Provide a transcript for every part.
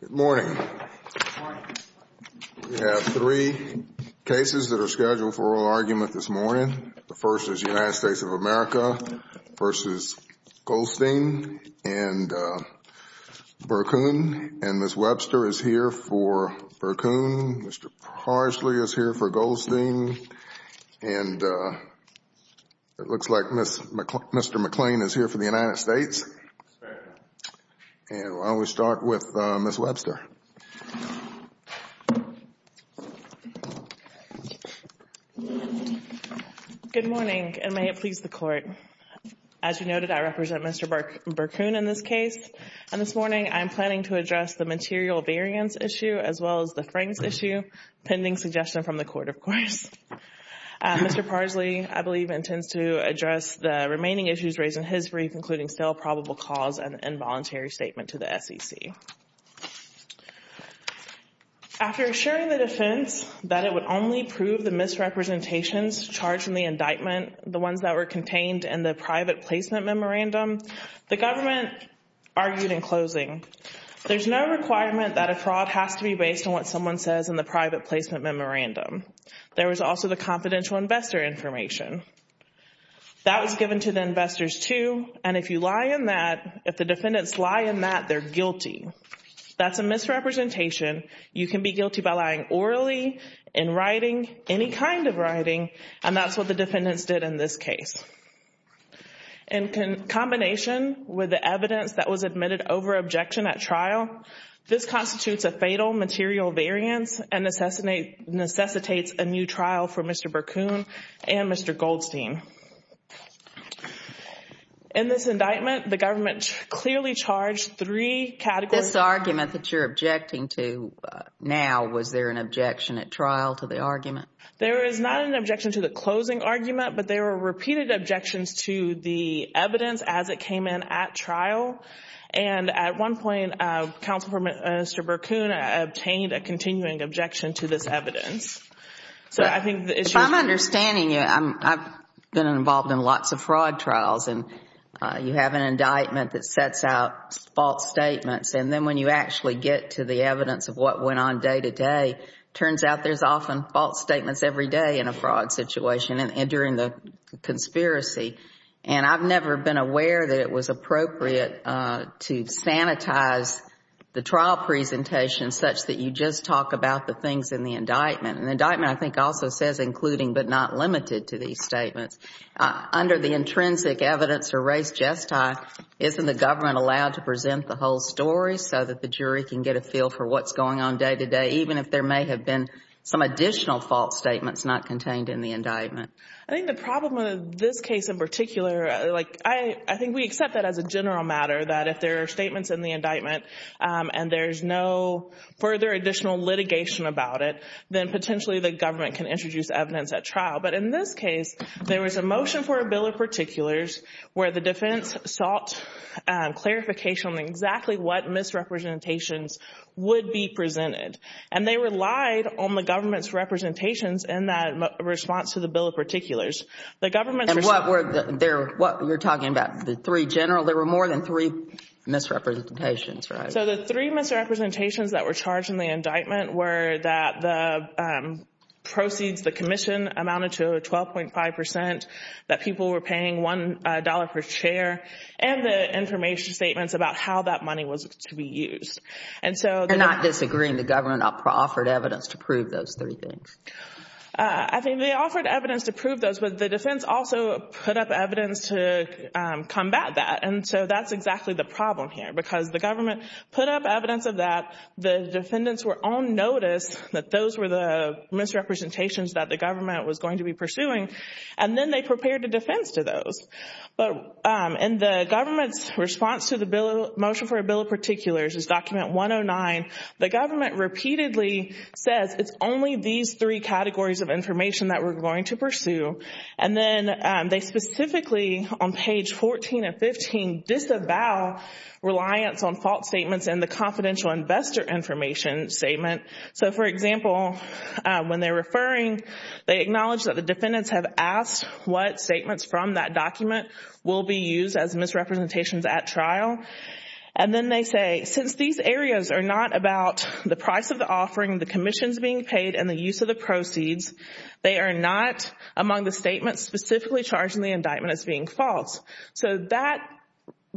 Good morning. We have three cases that are scheduled for oral argument this morning. The first is the United States of America v. Goldstein and Berkun. And Ms. Webster is here for Berkun. Mr. Parsley is here for Goldstein. And it looks like Mr. McLean is here for the court. Let's start with Ms. Webster. Good morning, and may it please the court. As you noted, I represent Mr. Berkun in this case. And this morning, I'm planning to address the material variance issue as well as the Frings issue, pending suggestion from the court, of course. Mr. Parsley, I believe, intends to address the remaining issues raised in his brief, including stale probable cause and involuntary statement to the SEC. After assuring the defense that it would only prove the misrepresentations charged in the indictment, the ones that were contained in the private placement memorandum, the government argued in closing, there's no requirement that a fraud has to be based on what someone says in the private placement memorandum. There was also the confidential investor information. That was given to the investors too. And if you lie in that, if the defendants lie in that, they're guilty. That's a misrepresentation. You can be guilty by lying orally, in writing, any kind of writing, and that's what the defendants did in this case. In combination with the evidence that was admitted over objection at trial, this constitutes a fatal material variance and necessitates a new trial for Mr. Berkoon and Mr. Goldstein. In this indictment, the government clearly charged three categories. This argument that you're objecting to now, was there an objection at trial to the argument? There is not an objection to the closing argument, but there were repeated objections to the evidence as it came in at trial. And at one point, counsel for Mr. Berkoon obtained a continuing objection to this evidence. So I think the issue is... If I'm understanding you, I've been involved in lots of fraud trials and you have an indictment that sets out false statements. And then when you actually get to the evidence of what went on day to day, it turns out there's often false statements every day in a fraud situation and during the And I've never been aware that it was appropriate to sanitize the trial presentation such that you just talk about the things in the indictment. And the indictment, I think, also says, including but not limited to these statements. Under the intrinsic evidence or race gesti, isn't the government allowed to present the whole story so that the jury can get a feel for what's going on day to day, even if there may have been some additional false statements not contained in the indictment? I think the problem with this case in particular, I think we accept that as a general matter, that if there are statements in the indictment and there's no further additional litigation about it, then potentially the government can introduce evidence at trial. But in this case, there was a motion for a bill of particulars where the defense sought clarification on exactly what misrepresentations would be presented. And they relied on the government's representations in that response to the bill of particulars. The government... And what you're talking about, the three general, there were more than three misrepresentations, right? So the three misrepresentations that were charged in the indictment were that the proceeds, the commission amounted to 12.5 percent, that people were paying $1 per chair, and the information statements about how that money was to be used. And so... You're not disagreeing the government offered evidence to prove those three things? I think they offered evidence to prove those, but the defense also put up evidence to combat that. And so that's exactly the problem here, because the government put up evidence of that, the defendants were on notice that those were the misrepresentations that the government was going to be pursuing, and then they prepared a defense to those. But in the government's response to the motion for a bill of particulars, this document 109, the government repeatedly says, it's only these three categories of information that we're going to pursue. And then they specifically, on page 14 and 15, disavow reliance on fault statements in the confidential investor information statement. So for example, when they're referring, they acknowledge that the defendants have asked what statements from that document will be used as misrepresentations at trial. And then they say, since these areas are not about the price of the offering, the commissions being paid, and the use of the proceeds, they are not among the statements specifically charging the indictment as being false. So that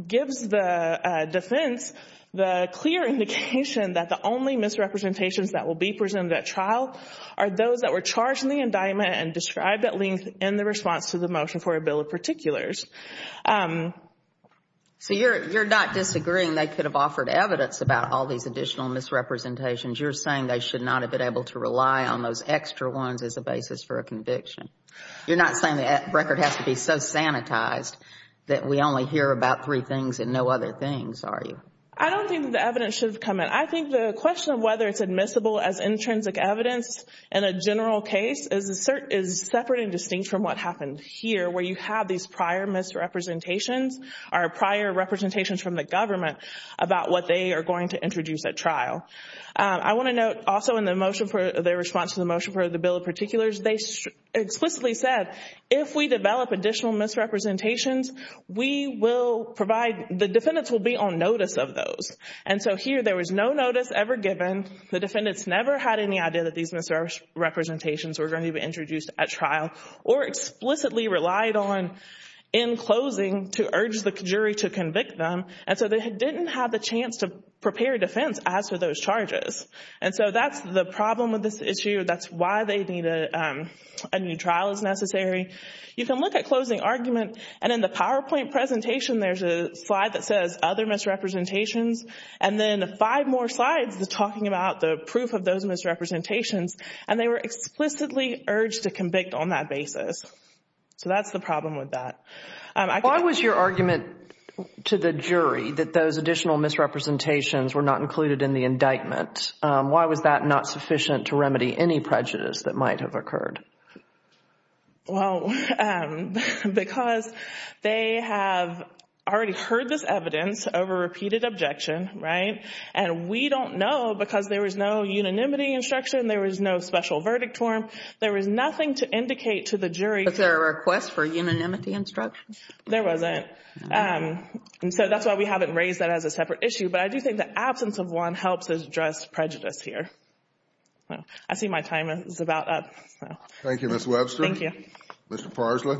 gives the defense the clear indication that the only misrepresentations that will be presented at trial are those that were charged in the indictment and described at length in the response to the motion for a bill of particulars. So you're not disagreeing they could have offered evidence about all these additional misrepresentations. You're saying they should not have been able to rely on those extra ones as a basis for a conviction. You're not saying the record has to be so sanitized that we only hear about three things and know other things, are you? I don't think the evidence should come in. I think the question of whether it's admissible as intrinsic evidence in a general case is separate and distinct from what happened here, where you have these prior misrepresentations or prior representations from the government about what they are going to introduce at trial. I want to note also in the motion for their response to the motion for the bill of particulars, they explicitly said if we develop additional misrepresentations, we will provide the defendants will be on notice of those. And so here there was no notice ever given. The defendants never had any idea that these misrepresentations were going to be introduced at trial or explicitly relied on in closing to urge the jury to convict them. And so they didn't have the chance to prepare defense as to those charges. And so that's the problem with this issue. That's why they need a new trial as necessary. You can look at closing argument. And in the PowerPoint presentation, there's a slide that says other misrepresentations. And then five more slides talking about the proof of those misrepresentations. And they were explicitly urged to convict on that basis. So that's the problem with that. Why was your argument to the jury that those additional misrepresentations were not included in the indictment? Why was that not sufficient to remedy any prejudice that might have occurred? Well, because they have already heard this evidence over repeated objection, right? And we don't know because there was no unanimity instruction. There was no special verdict form. There was nothing to indicate to the jury. Was there a request for unanimity instruction? There wasn't. And so that's why we haven't raised that as a separate issue. But I do think the absence of one helps us address prejudice here. I see my time is about up. Thank you, Ms. Webster. Thank you. Mr. Parsley.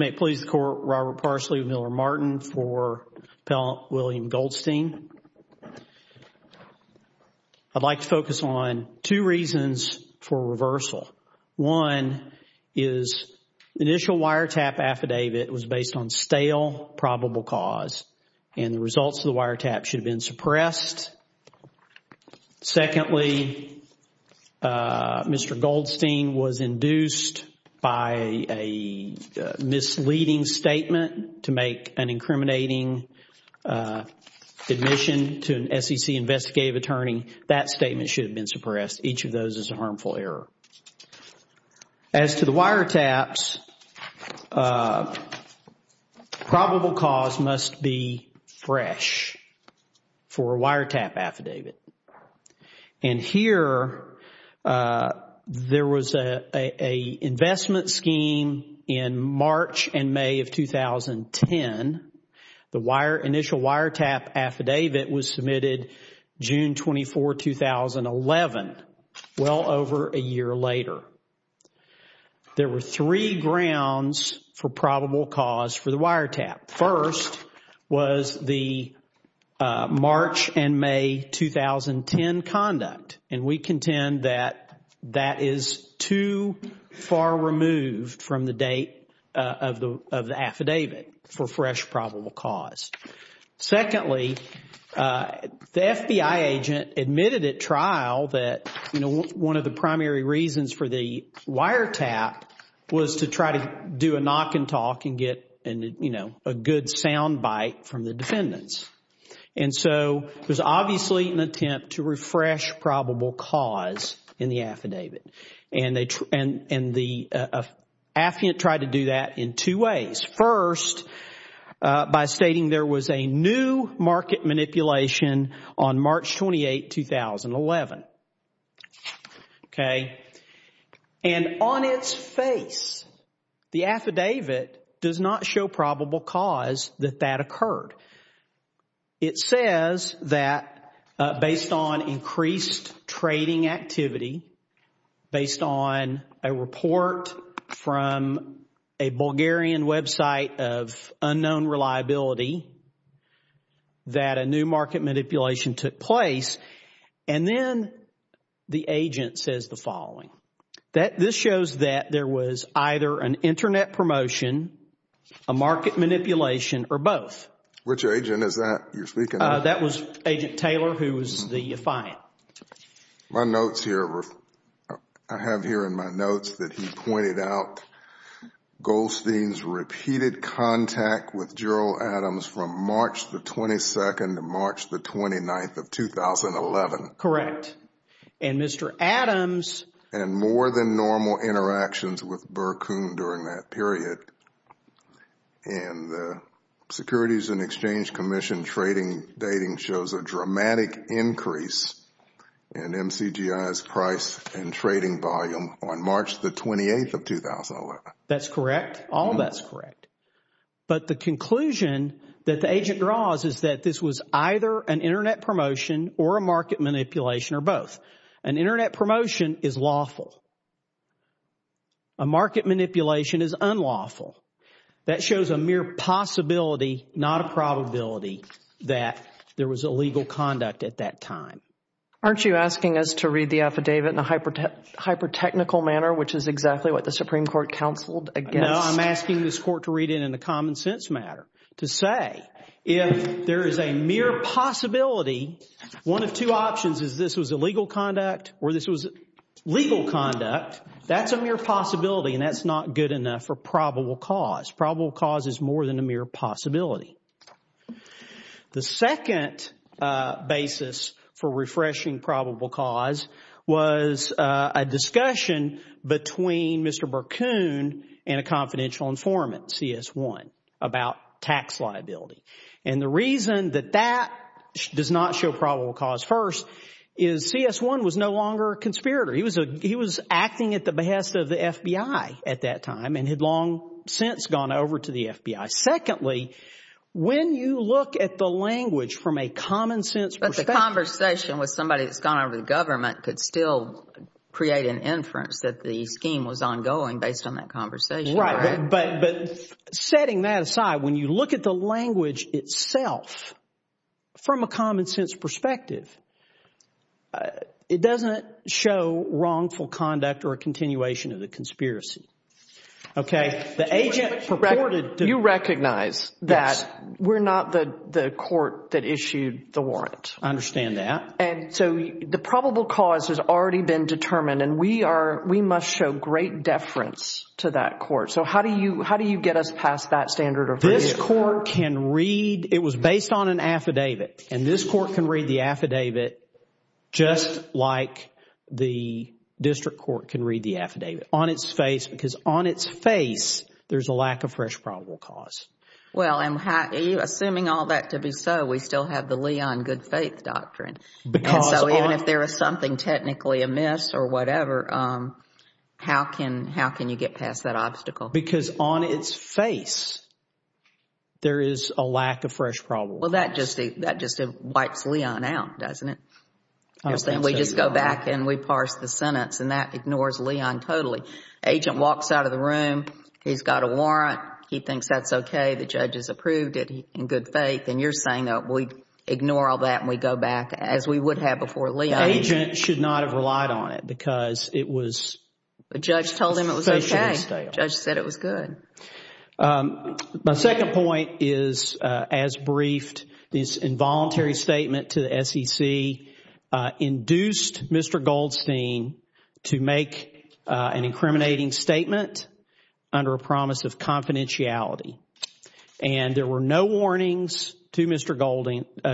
May it please the Court, Robert Parsley, Miller Martin for Appellant William Goldstein. I'd like to focus on two reasons for reversal. One is initial wiretap affidavit was based on stale probable cause. And the results of the wiretap should have been suppressed. Secondly, Mr. Goldstein was induced by a misleading statement to make an incriminating admission to an SEC investigative attorney. That statement should have been suppressed. Each of those is a harmful error. As to the wiretaps, probable cause must be fresh for a wiretap affidavit. And here there was an investment scheme in March and May of 2010. The initial wiretap affidavit was submitted June 24, 2011, well over a year later. There were three grounds for probable cause for the wiretap. First was the March and May 2010 conduct. And we contend that that is too far removed from the date of the affidavit for fresh probable cause. Secondly, the FBI agent admitted at trial that, you know, one of the primary reasons for the wiretap was to do a knock and talk and get, you know, a good sound bite from the defendants. And so it was obviously an attempt to refresh probable cause in the affidavit. And the affidavit tried to do that in two ways. First, by stating there was a new market manipulation on March 28, 2011. Okay. And on its face, the affidavit does not show probable cause that that occurred. It says that based on increased trading activity, based on a report from a Bulgarian website of unknown reliability, that a new market manipulation took place. And then the agent says the following. This shows that there was either an internet promotion, a market manipulation, or both. Which agent is that you're speaking of? That was Agent Taylor, who was the defiant. My notes here, I have here in my notes that he pointed out Goldstein's repeated contact with Gerald Adams from March the 22nd to March the 29th of 2011. Correct. And Mr. Adams... And more than normal interactions with Burkhum during that period. Correct. And the Securities and Exchange Commission trading dating shows a dramatic increase in MCGI's price and trading volume on March the 28th of 2011. That's correct. All that's correct. But the conclusion that the agent draws is that this was either an internet promotion or a market manipulation or both. An internet promotion is lawful. A market manipulation is unlawful. That shows a mere possibility, not a probability, that there was illegal conduct at that time. Aren't you asking us to read the affidavit in a hyper-technical manner, which is exactly what the Supreme Court counseled against? No, I'm asking this court to read it in a common sense manner. To say if there is a mere possibility, one of two options is this was legal conduct or this was legal conduct. That's a mere possibility and that's not good enough for probable cause. Probable cause is more than a mere possibility. The second basis for refreshing probable cause was a discussion between Mr. Burkhum and a confidential informant, CS1, about tax liability. The reason that that does not show probable cause first is CS1 was no longer a conspirator. He was acting at the behest of the FBI at that time and had long since gone over to the FBI. Secondly, when you look at the language from a common sense perspective... But the conversation with somebody that's gone over to the government could still create an inference that the scheme was ongoing based on that conversation. Right, but setting that aside, when you look at the language itself from a common sense perspective, it doesn't show wrongful conduct or a continuation of the conspiracy. You recognize that we're not the court that issued the warrant. I understand that. And so the probable cause has already been established. We must show great deference to that court. So how do you get us past that standard? This court can read... It was based on an affidavit and this court can read the affidavit just like the district court can read the affidavit on its face because on its face, there's a lack of fresh probable cause. Well, assuming all that to be so, we still have the How can you get past that obstacle? Because on its face, there is a lack of fresh probable cause. Well, that just wipes Leon out, doesn't it? You're saying we just go back and we parse the sentence and that ignores Leon totally. Agent walks out of the room. He's got a warrant. He thinks that's okay. The judge has approved it in good faith. And you're saying that we ignore all that and we go back as we would have before Agent should not have relied on it because it was... The judge told him it was okay. The judge said it was good. My second point is as briefed, this involuntary statement to the SEC induced Mr. Goldstein to make an incriminating statement under a promise of confidentiality. And there were no warnings to Mr.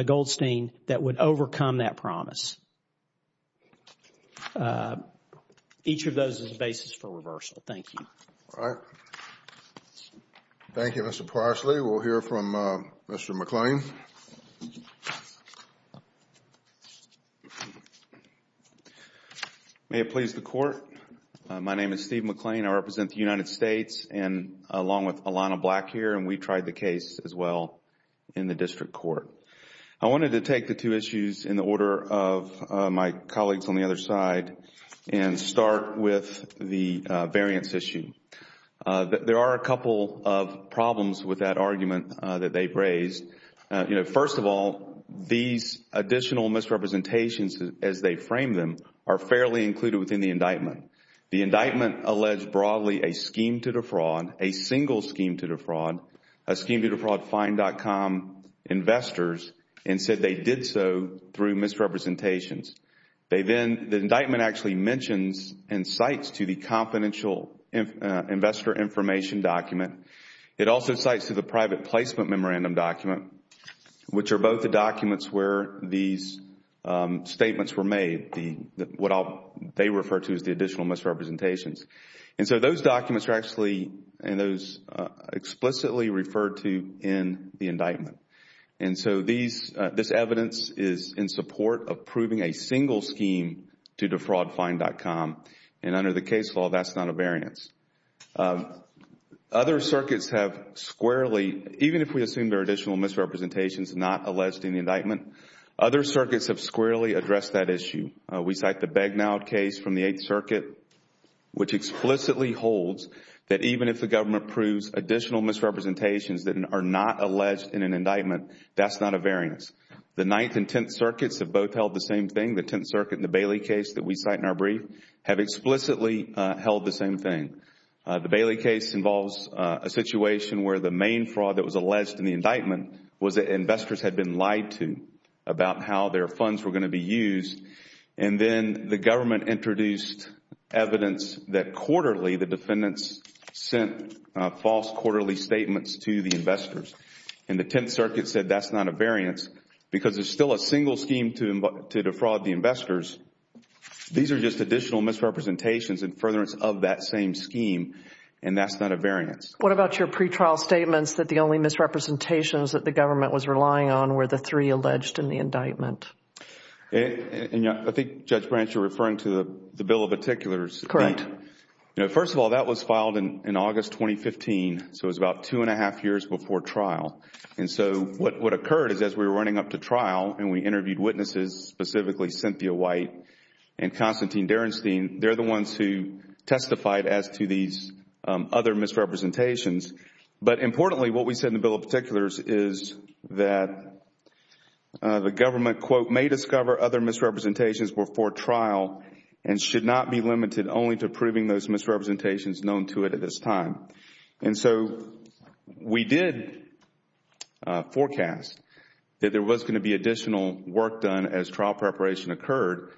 Goldstein that would overcome that promise. Each of those is a basis for reversal. Thank you. All right. Thank you, Mr. Priestly. We'll hear from Mr. McClain. May it please the court. My name is Steve McClain. I represent the United States and along with Alana Black here and we tried the case as well in the district court. I wanted to take the two issues in the order of my colleagues on the other side and start with the variance issue. There are a couple of problems with that argument that they've raised. First of all, these additional misrepresentations as they frame them are fairly included within the indictment. The indictment alleged broadly a scheme to defraud, a single scheme to defraud, a scheme to defraud fine.com investors and said they did so through misrepresentations. They then, the indictment actually mentions and cites to the confidential investor information document. It also cites to the private placement memorandum document, which are both the documents where these statements were made, what they refer to as additional misrepresentations. Those documents are actually and those explicitly referred to in the indictment. This evidence is in support of proving a single scheme to defraud fine.com and under the case law, that's not a variance. Other circuits have squarely, even if we assume there are additional misrepresentations not alleged in the indictment, other circuits have from the Eighth Circuit, which explicitly holds that even if the government proves additional misrepresentations that are not alleged in an indictment, that's not a variance. The Ninth and Tenth Circuits have both held the same thing. The Tenth Circuit and the Bailey case that we cite in our brief have explicitly held the same thing. The Bailey case involves a situation where the main fraud that was alleged in the indictment was that investors had been lied to about how their funds were going to be used and then the government introduced evidence that quarterly the defendants sent false quarterly statements to the investors and the Tenth Circuit said that's not a variance because there's still a single scheme to defraud the investors. These are just additional misrepresentations and furtherance of that same scheme and that's not a variance. What about your pre-trial statements that the only misrepresentations that the government was relying on were the three alleged in the indictment? I think, Judge Branch, you're referring to the Bill of Particulars. Correct. First of all, that was filed in August 2015, so it was about two and a half years before trial and so what occurred is as we were running up to trial and we interviewed witnesses, specifically Cynthia White and Constantine Derenstein, they're the ones who testified as to these other misrepresentations, but importantly what we said in the Bill of Particulars is that the government, quote, may discover other misrepresentations before trial and should not be limited only to proving those misrepresentations known to it at this time. And so we did forecast that there was going to be additional work done as trial preparation occurred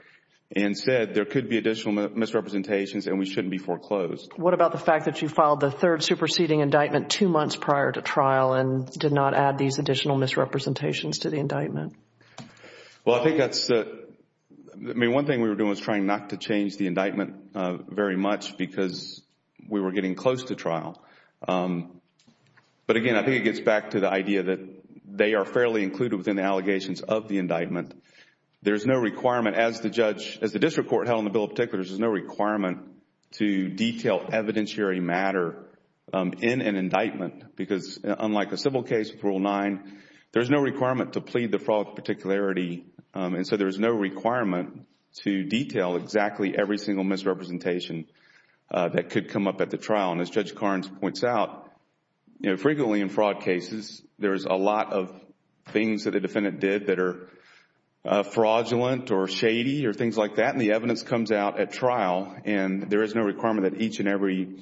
and said there could be additional misrepresentations and we shouldn't be foreclosed. What about the fact that you filed the third superseding indictment two months prior to trial and did not add these additional misrepresentations to the indictment? Well, I think that's, I mean, one thing we were doing was trying not to change the indictment very much because we were getting close to trial. But again, I think it gets back to the idea that they are fairly included within the allegations of the indictment. There's no requirement as the judge, as the district court held in the Bill of Particulars, there's no requirement to detail evidentiary matter in an indictment because unlike a civil case with Rule 9, there's no requirement to plead the fraud with particularity and so there's no requirement to detail exactly every single misrepresentation that could come up at the trial. And as Judge Carnes points out, frequently in fraud cases there's a lot of things that a defendant did that are comes out at trial and there is no requirement that each and every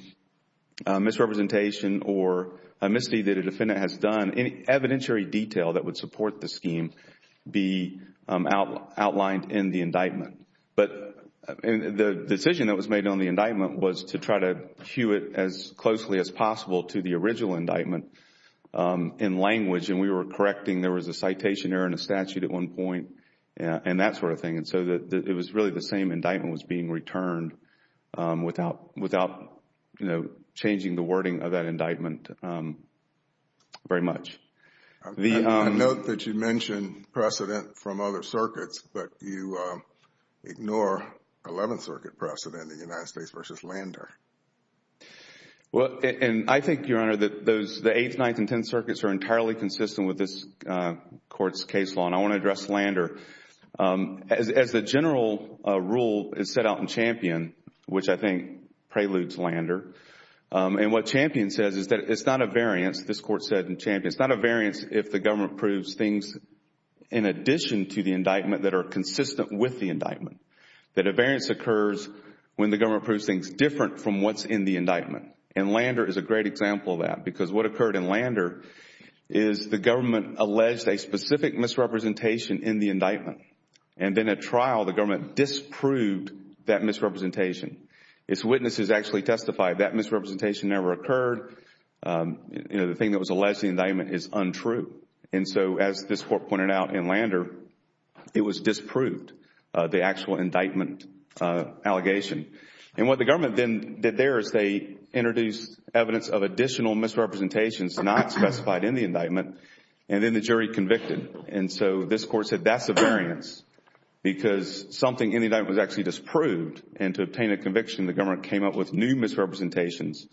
misrepresentation or amnesty that a defendant has done, any evidentiary detail that would support the scheme be outlined in the indictment. But the decision that was made on the indictment was to try to cue it as closely as possible to the original indictment in language and we were correcting, there was a citation error in the statute at one point and that sort of thing. And so it was really the same indictment was being returned without changing the wording of that indictment very much. I note that you mentioned precedent from other circuits, but you ignore 11th Circuit precedent in the United States v. Lander. Well, and I think, Your Honor, that the 8th, 9th and 10th Circuits are entirely consistent with this Lander. As the general rule is set out in Champion, which I think preludes Lander, and what Champion says is that it's not a variance, this Court said in Champion, it's not a variance if the government proves things in addition to the indictment that are consistent with the indictment. That a variance occurs when the government proves things different from what's in the indictment. And Lander is a great example of that because what occurred in the indictment and then at trial, the government disproved that misrepresentation. Its witnesses actually testified that misrepresentation never occurred. The thing that was alleged in the indictment is untrue. And so as this Court pointed out in Lander, it was disproved, the actual indictment allegation. And what the government then did there is they introduced evidence of additional misrepresentations not specified in the indictment and then the jury convicted. And so this Court said that's a variance because something in the indictment was actually disproved and to obtain a conviction, the government came up with new misrepresentations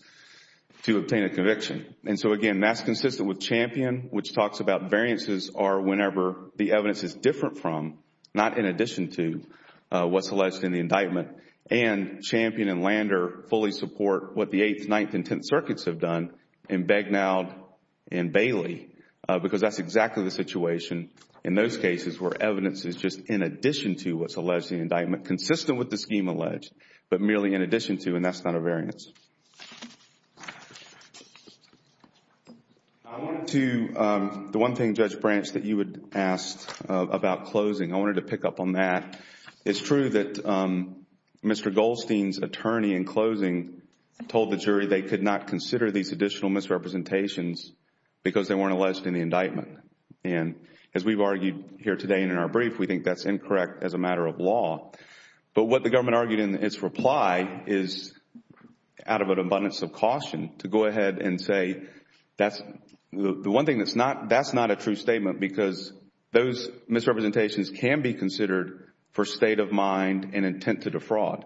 to obtain a conviction. And so again, that's consistent with Champion, which talks about variances are whenever the evidence is different from, not in addition to, what's alleged in the indictment. And Champion and Lander fully support what the 8th, 9th, and 10th Circuits have done in Begnaud and Bailey because that's exactly the situation in those cases where evidence is just in addition to what's alleged in the indictment, consistent with the scheme alleged, but merely in addition to and that's not a variance. I wanted to, the one thing, Judge Branch, that you had asked about closing, I wanted to pick up on that. It's true that Mr. Goldstein's closing told the jury they could not consider these additional misrepresentations because they weren't alleged in the indictment. And as we've argued here today and in our brief, we think that's incorrect as a matter of law. But what the government argued in its reply is, out of an abundance of caution, to go ahead and say that's, the one thing that's not, that's not a true statement because those misrepresentations can be considered for state of mind and intent to defraud.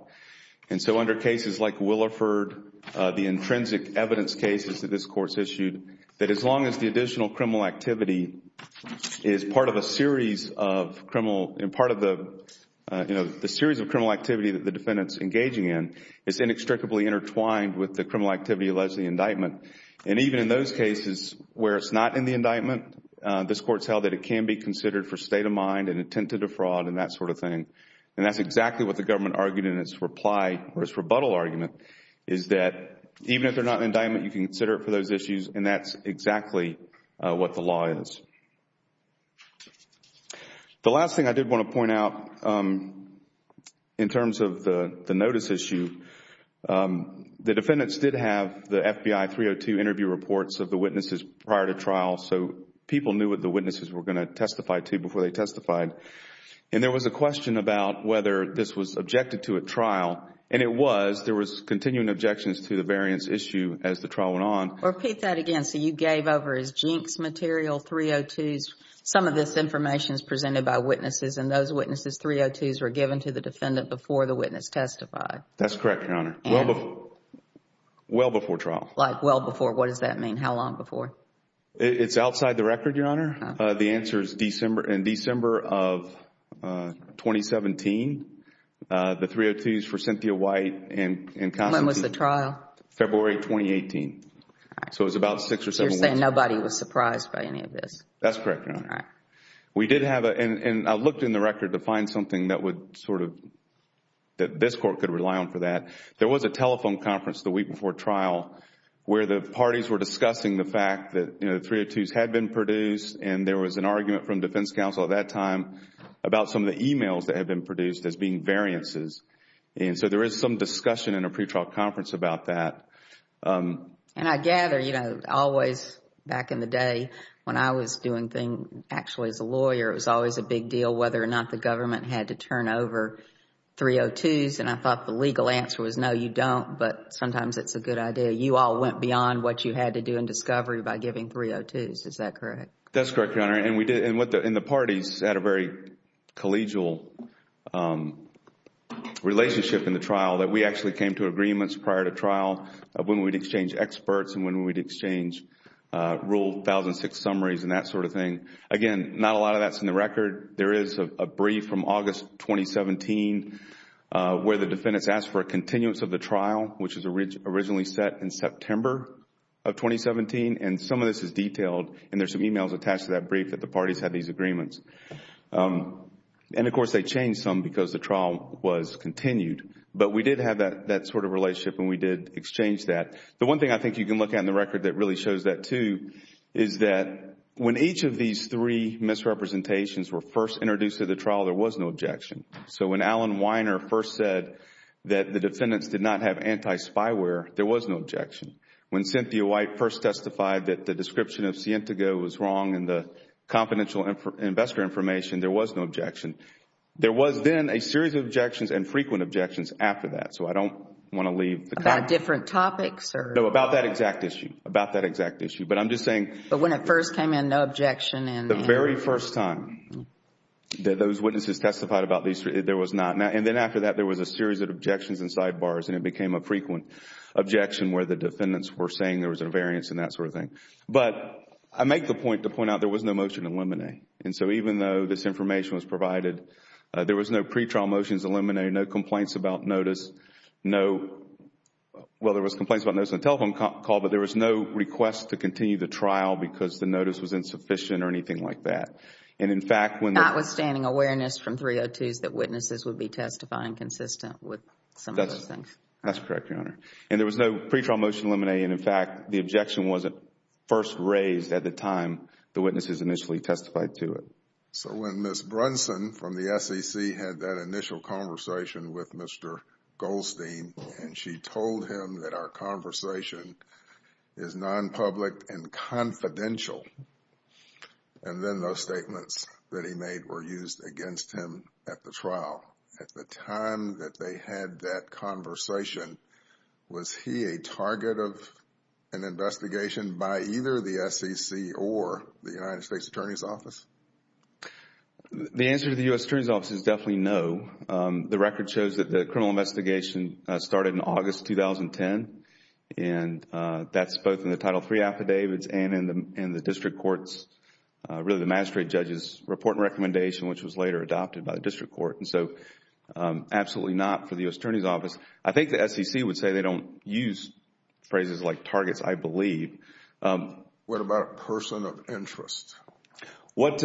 And so under cases like Williford, the intrinsic evidence cases that this Court's issued, that as long as the additional criminal activity is part of a series of criminal, and part of the, you know, the series of criminal activity that the defendant's engaging in, is inextricably intertwined with the criminal activity alleged in the indictment. And even in those cases where it's not in the indictment, this Court's held that it can be considered for state of mind and intent to defraud and that sort of thing. And that's exactly what the government argued in its reply, or its rebuttal argument, is that even if they're not in indictment, you can consider it for those issues, and that's exactly what the law is. The last thing I did want to point out in terms of the notice issue, the defendants did have the FBI 302 interview reports of the witnesses prior to trial, so people knew what the witnesses were going to testify to before they testified. And there was a question about whether this was objected to at trial, and it was, there was continuing objections to the variance issue as the trial went on. Repeat that again, so you gave over as jinx material 302s, some of this information is presented by witnesses, and those witnesses' 302s were given to the defendant before the witness testified. That's correct, Your Honor. Well before trial. Like well before, what does that mean, how long before? It's outside the record, Your Honor. The answer is in December of 2017, the 302s for Cynthia White and Constantine. When was the trial? February 2018. So it was about six or seven weeks. You're saying nobody was surprised by any of this? That's correct, Your Honor. All right. We did have a, and I looked in the record to find something that would sort of, that this court could rely on for that. There was a telephone conference the week before trial where the parties were discussing the fact that, you know, the 302s had been produced, and there was an argument from defense counsel at that time about some of the emails that had been produced as being variances. And so there is some discussion in a pretrial conference about that. And I gather, you know, always back in the day when I was doing things actually as a lawyer, it was always a big deal whether or not the government had to turn over 302s, and I thought the legal answer was, no, you don't, but sometimes it's a good idea. You all went beyond what you had to do in discovery by giving 302s. Is that correct? That's correct, Your Honor. And we did, and the parties had a very collegial relationship in the trial that we actually came to agreements prior to trial of when we'd exchange experts and when we'd exchange rule 1006 summaries and that sort of thing. Again, not a lot of that's in the record. There is a brief from August 2017 where the defendants asked for a continuance of the trial, which was originally set in September of 2017, and some of this is detailed, and there's some emails attached to that brief that the parties had these agreements. And, of course, they changed some because the trial was continued, but we did have that sort of relationship and we did exchange that. The one thing I think you can look at in the record that really shows that, too, is that when each of these three misrepresentations were first introduced to the trial, there was no objection. So when Alan Weiner first said that the defendants did not have anti-spyware, there was no objection. When Cynthia White first testified that the description of Sientago was wrong in the confidential investor information, there was no objection. There was then a series of objections and frequent objections after that, so I don't want to leave... About different topics or... No, about that exact issue, about that exact issue. But I'm just saying... The very first time that those witnesses testified about these three, there was not... And then after that, there was a series of objections and sidebars, and it became a frequent objection where the defendants were saying there was an invariance and that sort of thing. But I make the point to point out there was no motion to eliminate. And so even though this information was provided, there was no pretrial motions eliminated, no complaints about notice, no... well, there was complaints about notice on the telephone call, but there was no request to continue the trial because the notice was insufficient or anything like that. And in fact, when the... Notwithstanding awareness from 302s that witnesses would be testifying consistent with some of those things. That's correct, Your Honor. And there was no pretrial motion eliminated. In fact, the objection wasn't first raised at the time the witnesses initially testified to it. So when Ms. Brunson from the SEC had that public and confidential, and then those statements that he made were used against him at the trial, at the time that they had that conversation, was he a target of an investigation by either the SEC or the United States Attorney's Office? The answer to the U.S. Attorney's Office is definitely no. The record shows that the criminal investigation started in August 2010, and that's both in the Title III affidavits and in the district courts, really the magistrate judge's report and recommendation, which was later adopted by the district court. And so absolutely not for the U.S. Attorney's Office. I think the SEC would say they don't use phrases like targets, I believe. What about a person of interest? What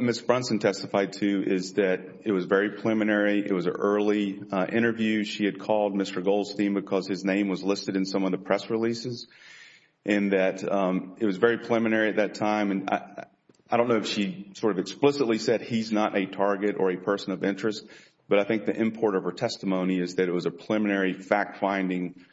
Ms. Brunson testified to is that it was very preliminary. It was an early interview. She had called Mr. Goldstein because his name was listed in some of the press releases, and that it was very preliminary at that time. And I don't know if she sort of explicitly said he's not a target or a person of interest, but I think the import of her testimony is that it was a preliminary fact-finding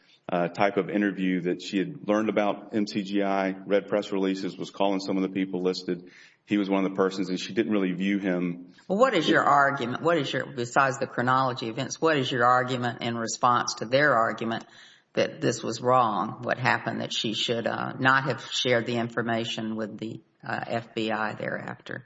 type of interview that she had learned about MCGI, read press releases, was calling some of the people listed, he was one of the persons, and she didn't really view him... Well, what is your argument? What is your, besides the chronology events, what is your argument in response to their argument that this was wrong, what happened, that she should not have shared the information with the FBI thereafter?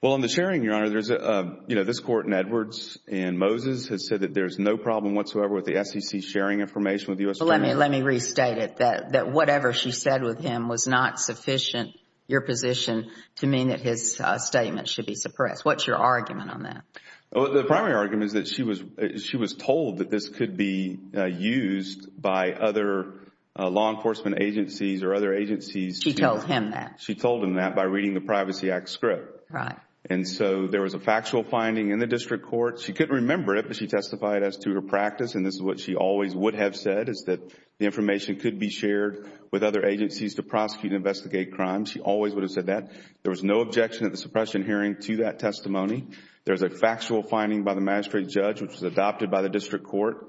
Well, in the sharing, Your Honor, there's a, you know, this Court in Edwards and Moses has said that there's no problem whatsoever with the SEC sharing information with the U.S. Attorney. Well, let me restate it, that whatever she said with him was not sufficient, your position, to mean that his statement should be suppressed. What's your argument on that? The primary argument is that she was told that this could be used by other law enforcement agencies or other agencies to... She told him that. She told him that by reading the Privacy Act script. Right. And so there was a factual finding in the District Court. She couldn't remember it, but she testified as to her practice, and this is what she always would have said, is that the information could be shared with other agencies to prosecute and investigate crimes. She always would have said that. There was no objection at the suppression hearing to that factual finding by the magistrate judge, which was adopted by the District Court,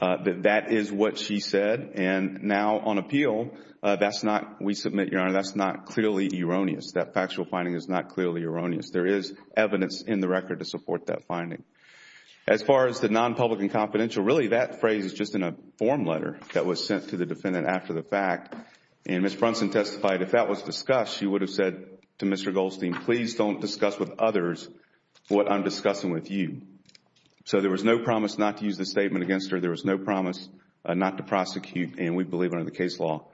that that is what she said. And now on appeal, that's not... We submit, Your Honor, that's not clearly erroneous. That factual finding is not clearly erroneous. There is evidence in the record to support that finding. As far as the non-public and confidential, really that phrase is just in a form letter that was sent to the defendant after the fact. And Ms. Brunson testified, if that was discussed, she would have said to Mr. Goldstein, please don't discuss with others what I'm discussing with you. So there was no promise not to use this statement against her. There was no promise not to prosecute, and we believe under the case law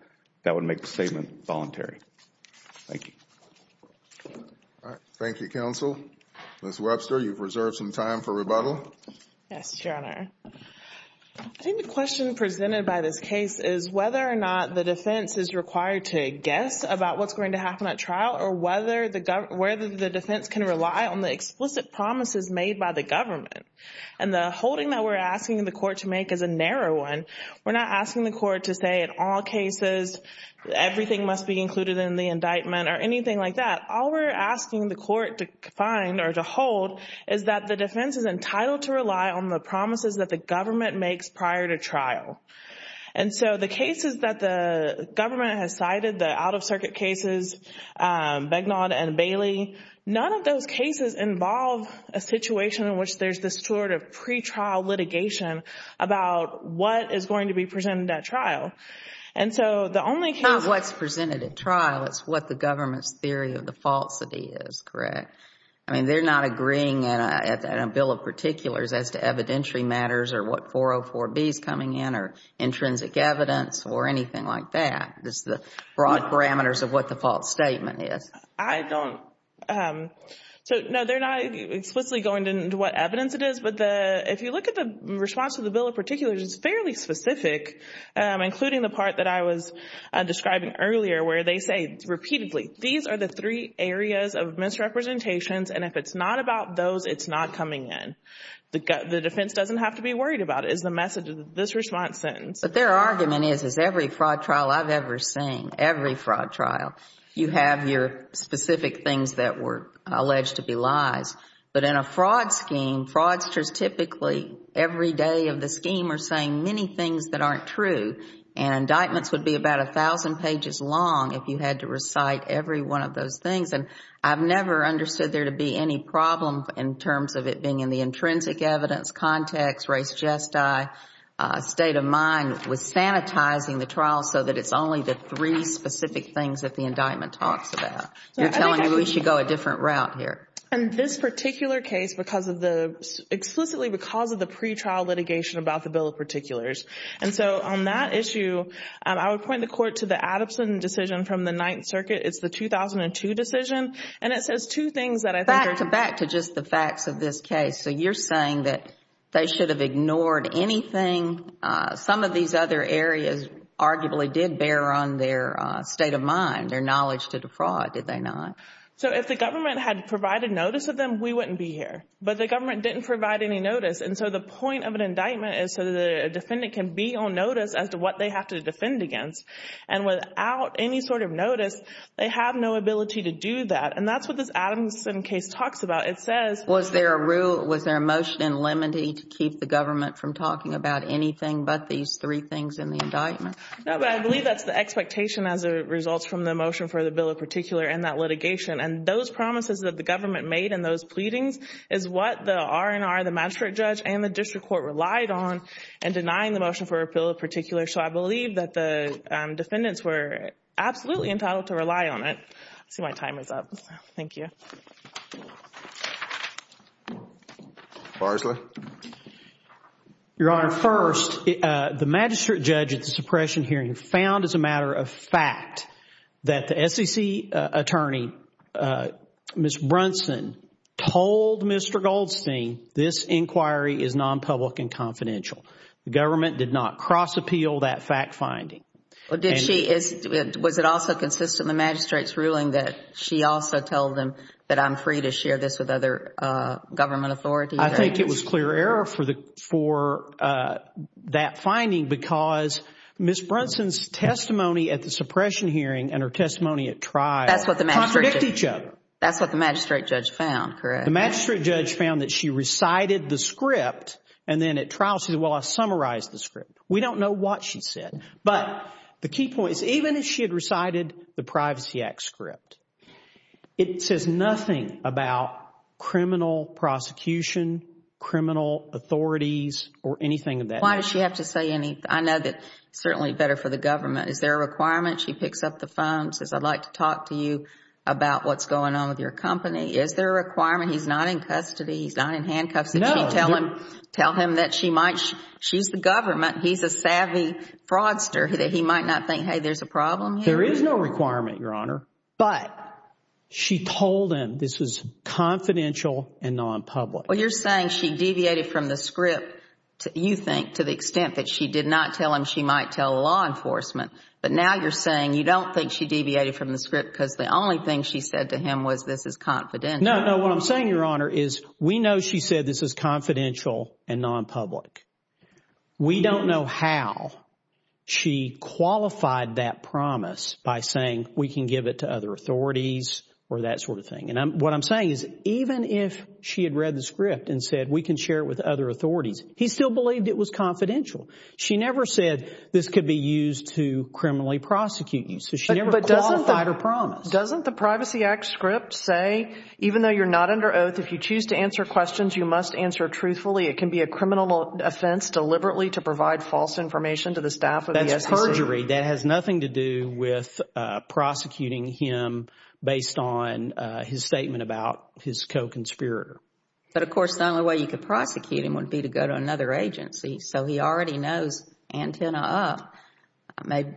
that would make the statement voluntary. Thank you. All right. Thank you, counsel. Ms. Webster, you've reserved some time for rebuttal. Yes, Your Honor. I think the question presented by this case is whether or not the defense is can rely on the explicit promises made by the government. And the holding that we're asking the court to make is a narrow one. We're not asking the court to say in all cases everything must be included in the indictment or anything like that. All we're asking the court to find or to hold is that the defense is entitled to rely on the promises that the government makes prior to trial. And so the cases that the government has cited, the out-of-circuit cases, Begnaud and Bailey, none of those cases involve a situation in which there's this sort of pretrial litigation about what is going to be presented at trial. And so the only case... It's not what's presented at trial. It's what the government's theory of the falsity is, correct? I mean, they're not agreeing in a bill of particulars as to evidentiary matters or what 404B is coming in or intrinsic evidence or anything like that. It's the broad parameters of what the false statement is. I don't... So, no, they're not explicitly going into what evidence it is. But if you look at the response to the bill of particulars, it's fairly specific, including the part that I was describing earlier where they say repeatedly, these are the three areas of misrepresentations. And if it's not about those, it's not coming in. The defense doesn't have to be worried about it, is the message of this response sentence. Their argument is, is every fraud trial I've ever seen, every fraud trial, you have your specific things that were alleged to be lies. But in a fraud scheme, fraudsters typically, every day of the scheme, are saying many things that aren't true. And indictments would be about 1,000 pages long if you had to recite every one of those things. And I've never understood there to be any problem in terms of it being in the intrinsic evidence context, race gesti, state of mind, with sanitizing the trial so that it's only the three specific things that the indictment talks about. You're telling me we should go a different route here. And this particular case, because of the... explicitly because of the pretrial litigation about the bill of particulars. And so on that issue, I would point the Court to the Addison decision from the Ninth Circuit. It's the 2002 decision. And it says two things that I can't understand. Back to just the facts of this case. So you're saying that they should have ignored anything? Some of these other areas arguably did bear on their state of mind, their knowledge to defraud, did they not? So if the government had provided notice of them, we wouldn't be here. But the government didn't provide any notice. And so the point of an indictment is so that a defendant can be on notice as to what they have to defend against. And without any sort of notice, they have no It says... Was there a motion in limine to keep the government from talking about anything but these three things in the indictment? No, but I believe that's the expectation as it results from the motion for the bill of particular and that litigation. And those promises that the government made in those pleadings is what the R&R, the magistrate judge, and the district court relied on in denying the motion for a bill of particular. So I believe that the defendants were absolutely entitled to rely on it. I see my timer's up. Thank you. Barsley? Your Honor, first, the magistrate judge at the suppression hearing found as a matter of fact that the SEC attorney, Ms. Brunson, told Mr. Goldstein this inquiry is non-public and confidential. The government did not cross-appeal that fact-finding. Was it also consistent in the magistrate's ruling that she also told him that I'm free to share this with other government authorities? I think it was clear error for that finding because Ms. Brunson's testimony at the suppression hearing and her testimony at trial contradict each other. That's what the magistrate judge found, correct? The magistrate judge found that she recited the script and then at trial she said, well, I summarized the script. We don't know what she said. But the key point is even if she had recited the Privacy Act script, it says nothing about criminal prosecution, criminal authorities or anything of that nature. Why does she have to say anything? I know that it's certainly better for the government. Is there a requirement? She picks up the phone and says, I'd like to talk to you about what's going on with your company. Is there a requirement? He's not in custody. He's not in handcuffs. No. Did she tell him that she's the government? He's a savvy fraudster. He might not think, hey, there's a problem here. There is no requirement, Your Honor. But she told him this was confidential and nonpublic. Well, you're saying she deviated from the script, you think, to the extent that she did not tell him she might tell law enforcement. But now you're saying you don't think she deviated from the script because the only thing she said to him was this is confidential. No, no. What I'm saying, Your Honor, is we know she said this is confidential and nonpublic. We don't know how she qualified that promise by saying we can give it to other authorities or that sort of thing. And what I'm saying is even if she had read the script and said we can share it with other authorities, he still believed it was confidential. She never said this could be used to criminally prosecute you. So she never qualified her promise. Doesn't the Privacy Act script say even though you're not under oath, if you choose to answer questions, you must answer truthfully. It can be a criminal offense deliberately to provide false information to the staff of the SEC. That's perjury. That has nothing to do with prosecuting him based on his statement about his co-conspirator. But of course, the only way you could prosecute him would be to go to another agency. So he already knows antenna up.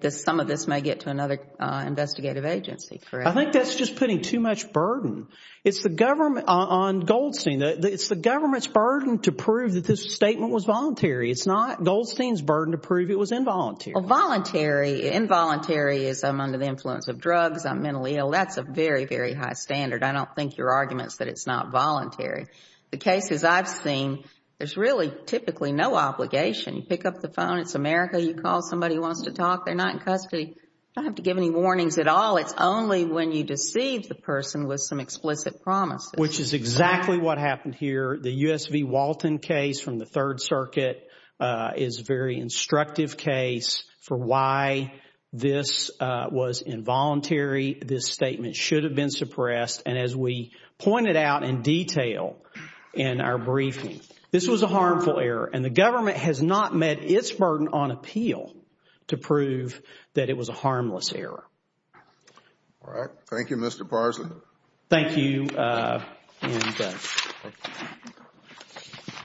Some of this may get to another investigative agency. I think that's just putting too much burden. It's the government on Goldstein. It's the government's burden to prove that this statement was voluntary. It's not Goldstein's burden to prove it was involuntary. Voluntary. Involuntary is I'm under the influence of drugs. I'm mentally ill. That's a very, very high standard. I don't think your argument is that it's not voluntary. The cases I've seen, there's really typically no obligation. You pick up the phone. It's America. You call somebody who wants to talk. They're not in custody. You don't have to give any When you deceive the person with some explicit promises. Which is exactly what happened here. The USV Walton case from the Third Circuit is a very instructive case for why this was involuntary. This statement should have been suppressed. And as we pointed out in detail in our briefing, this was a harmful error. And the government has not met its burden on appeal to prove that it was a harmless error. Thank you, Mr. Parsley.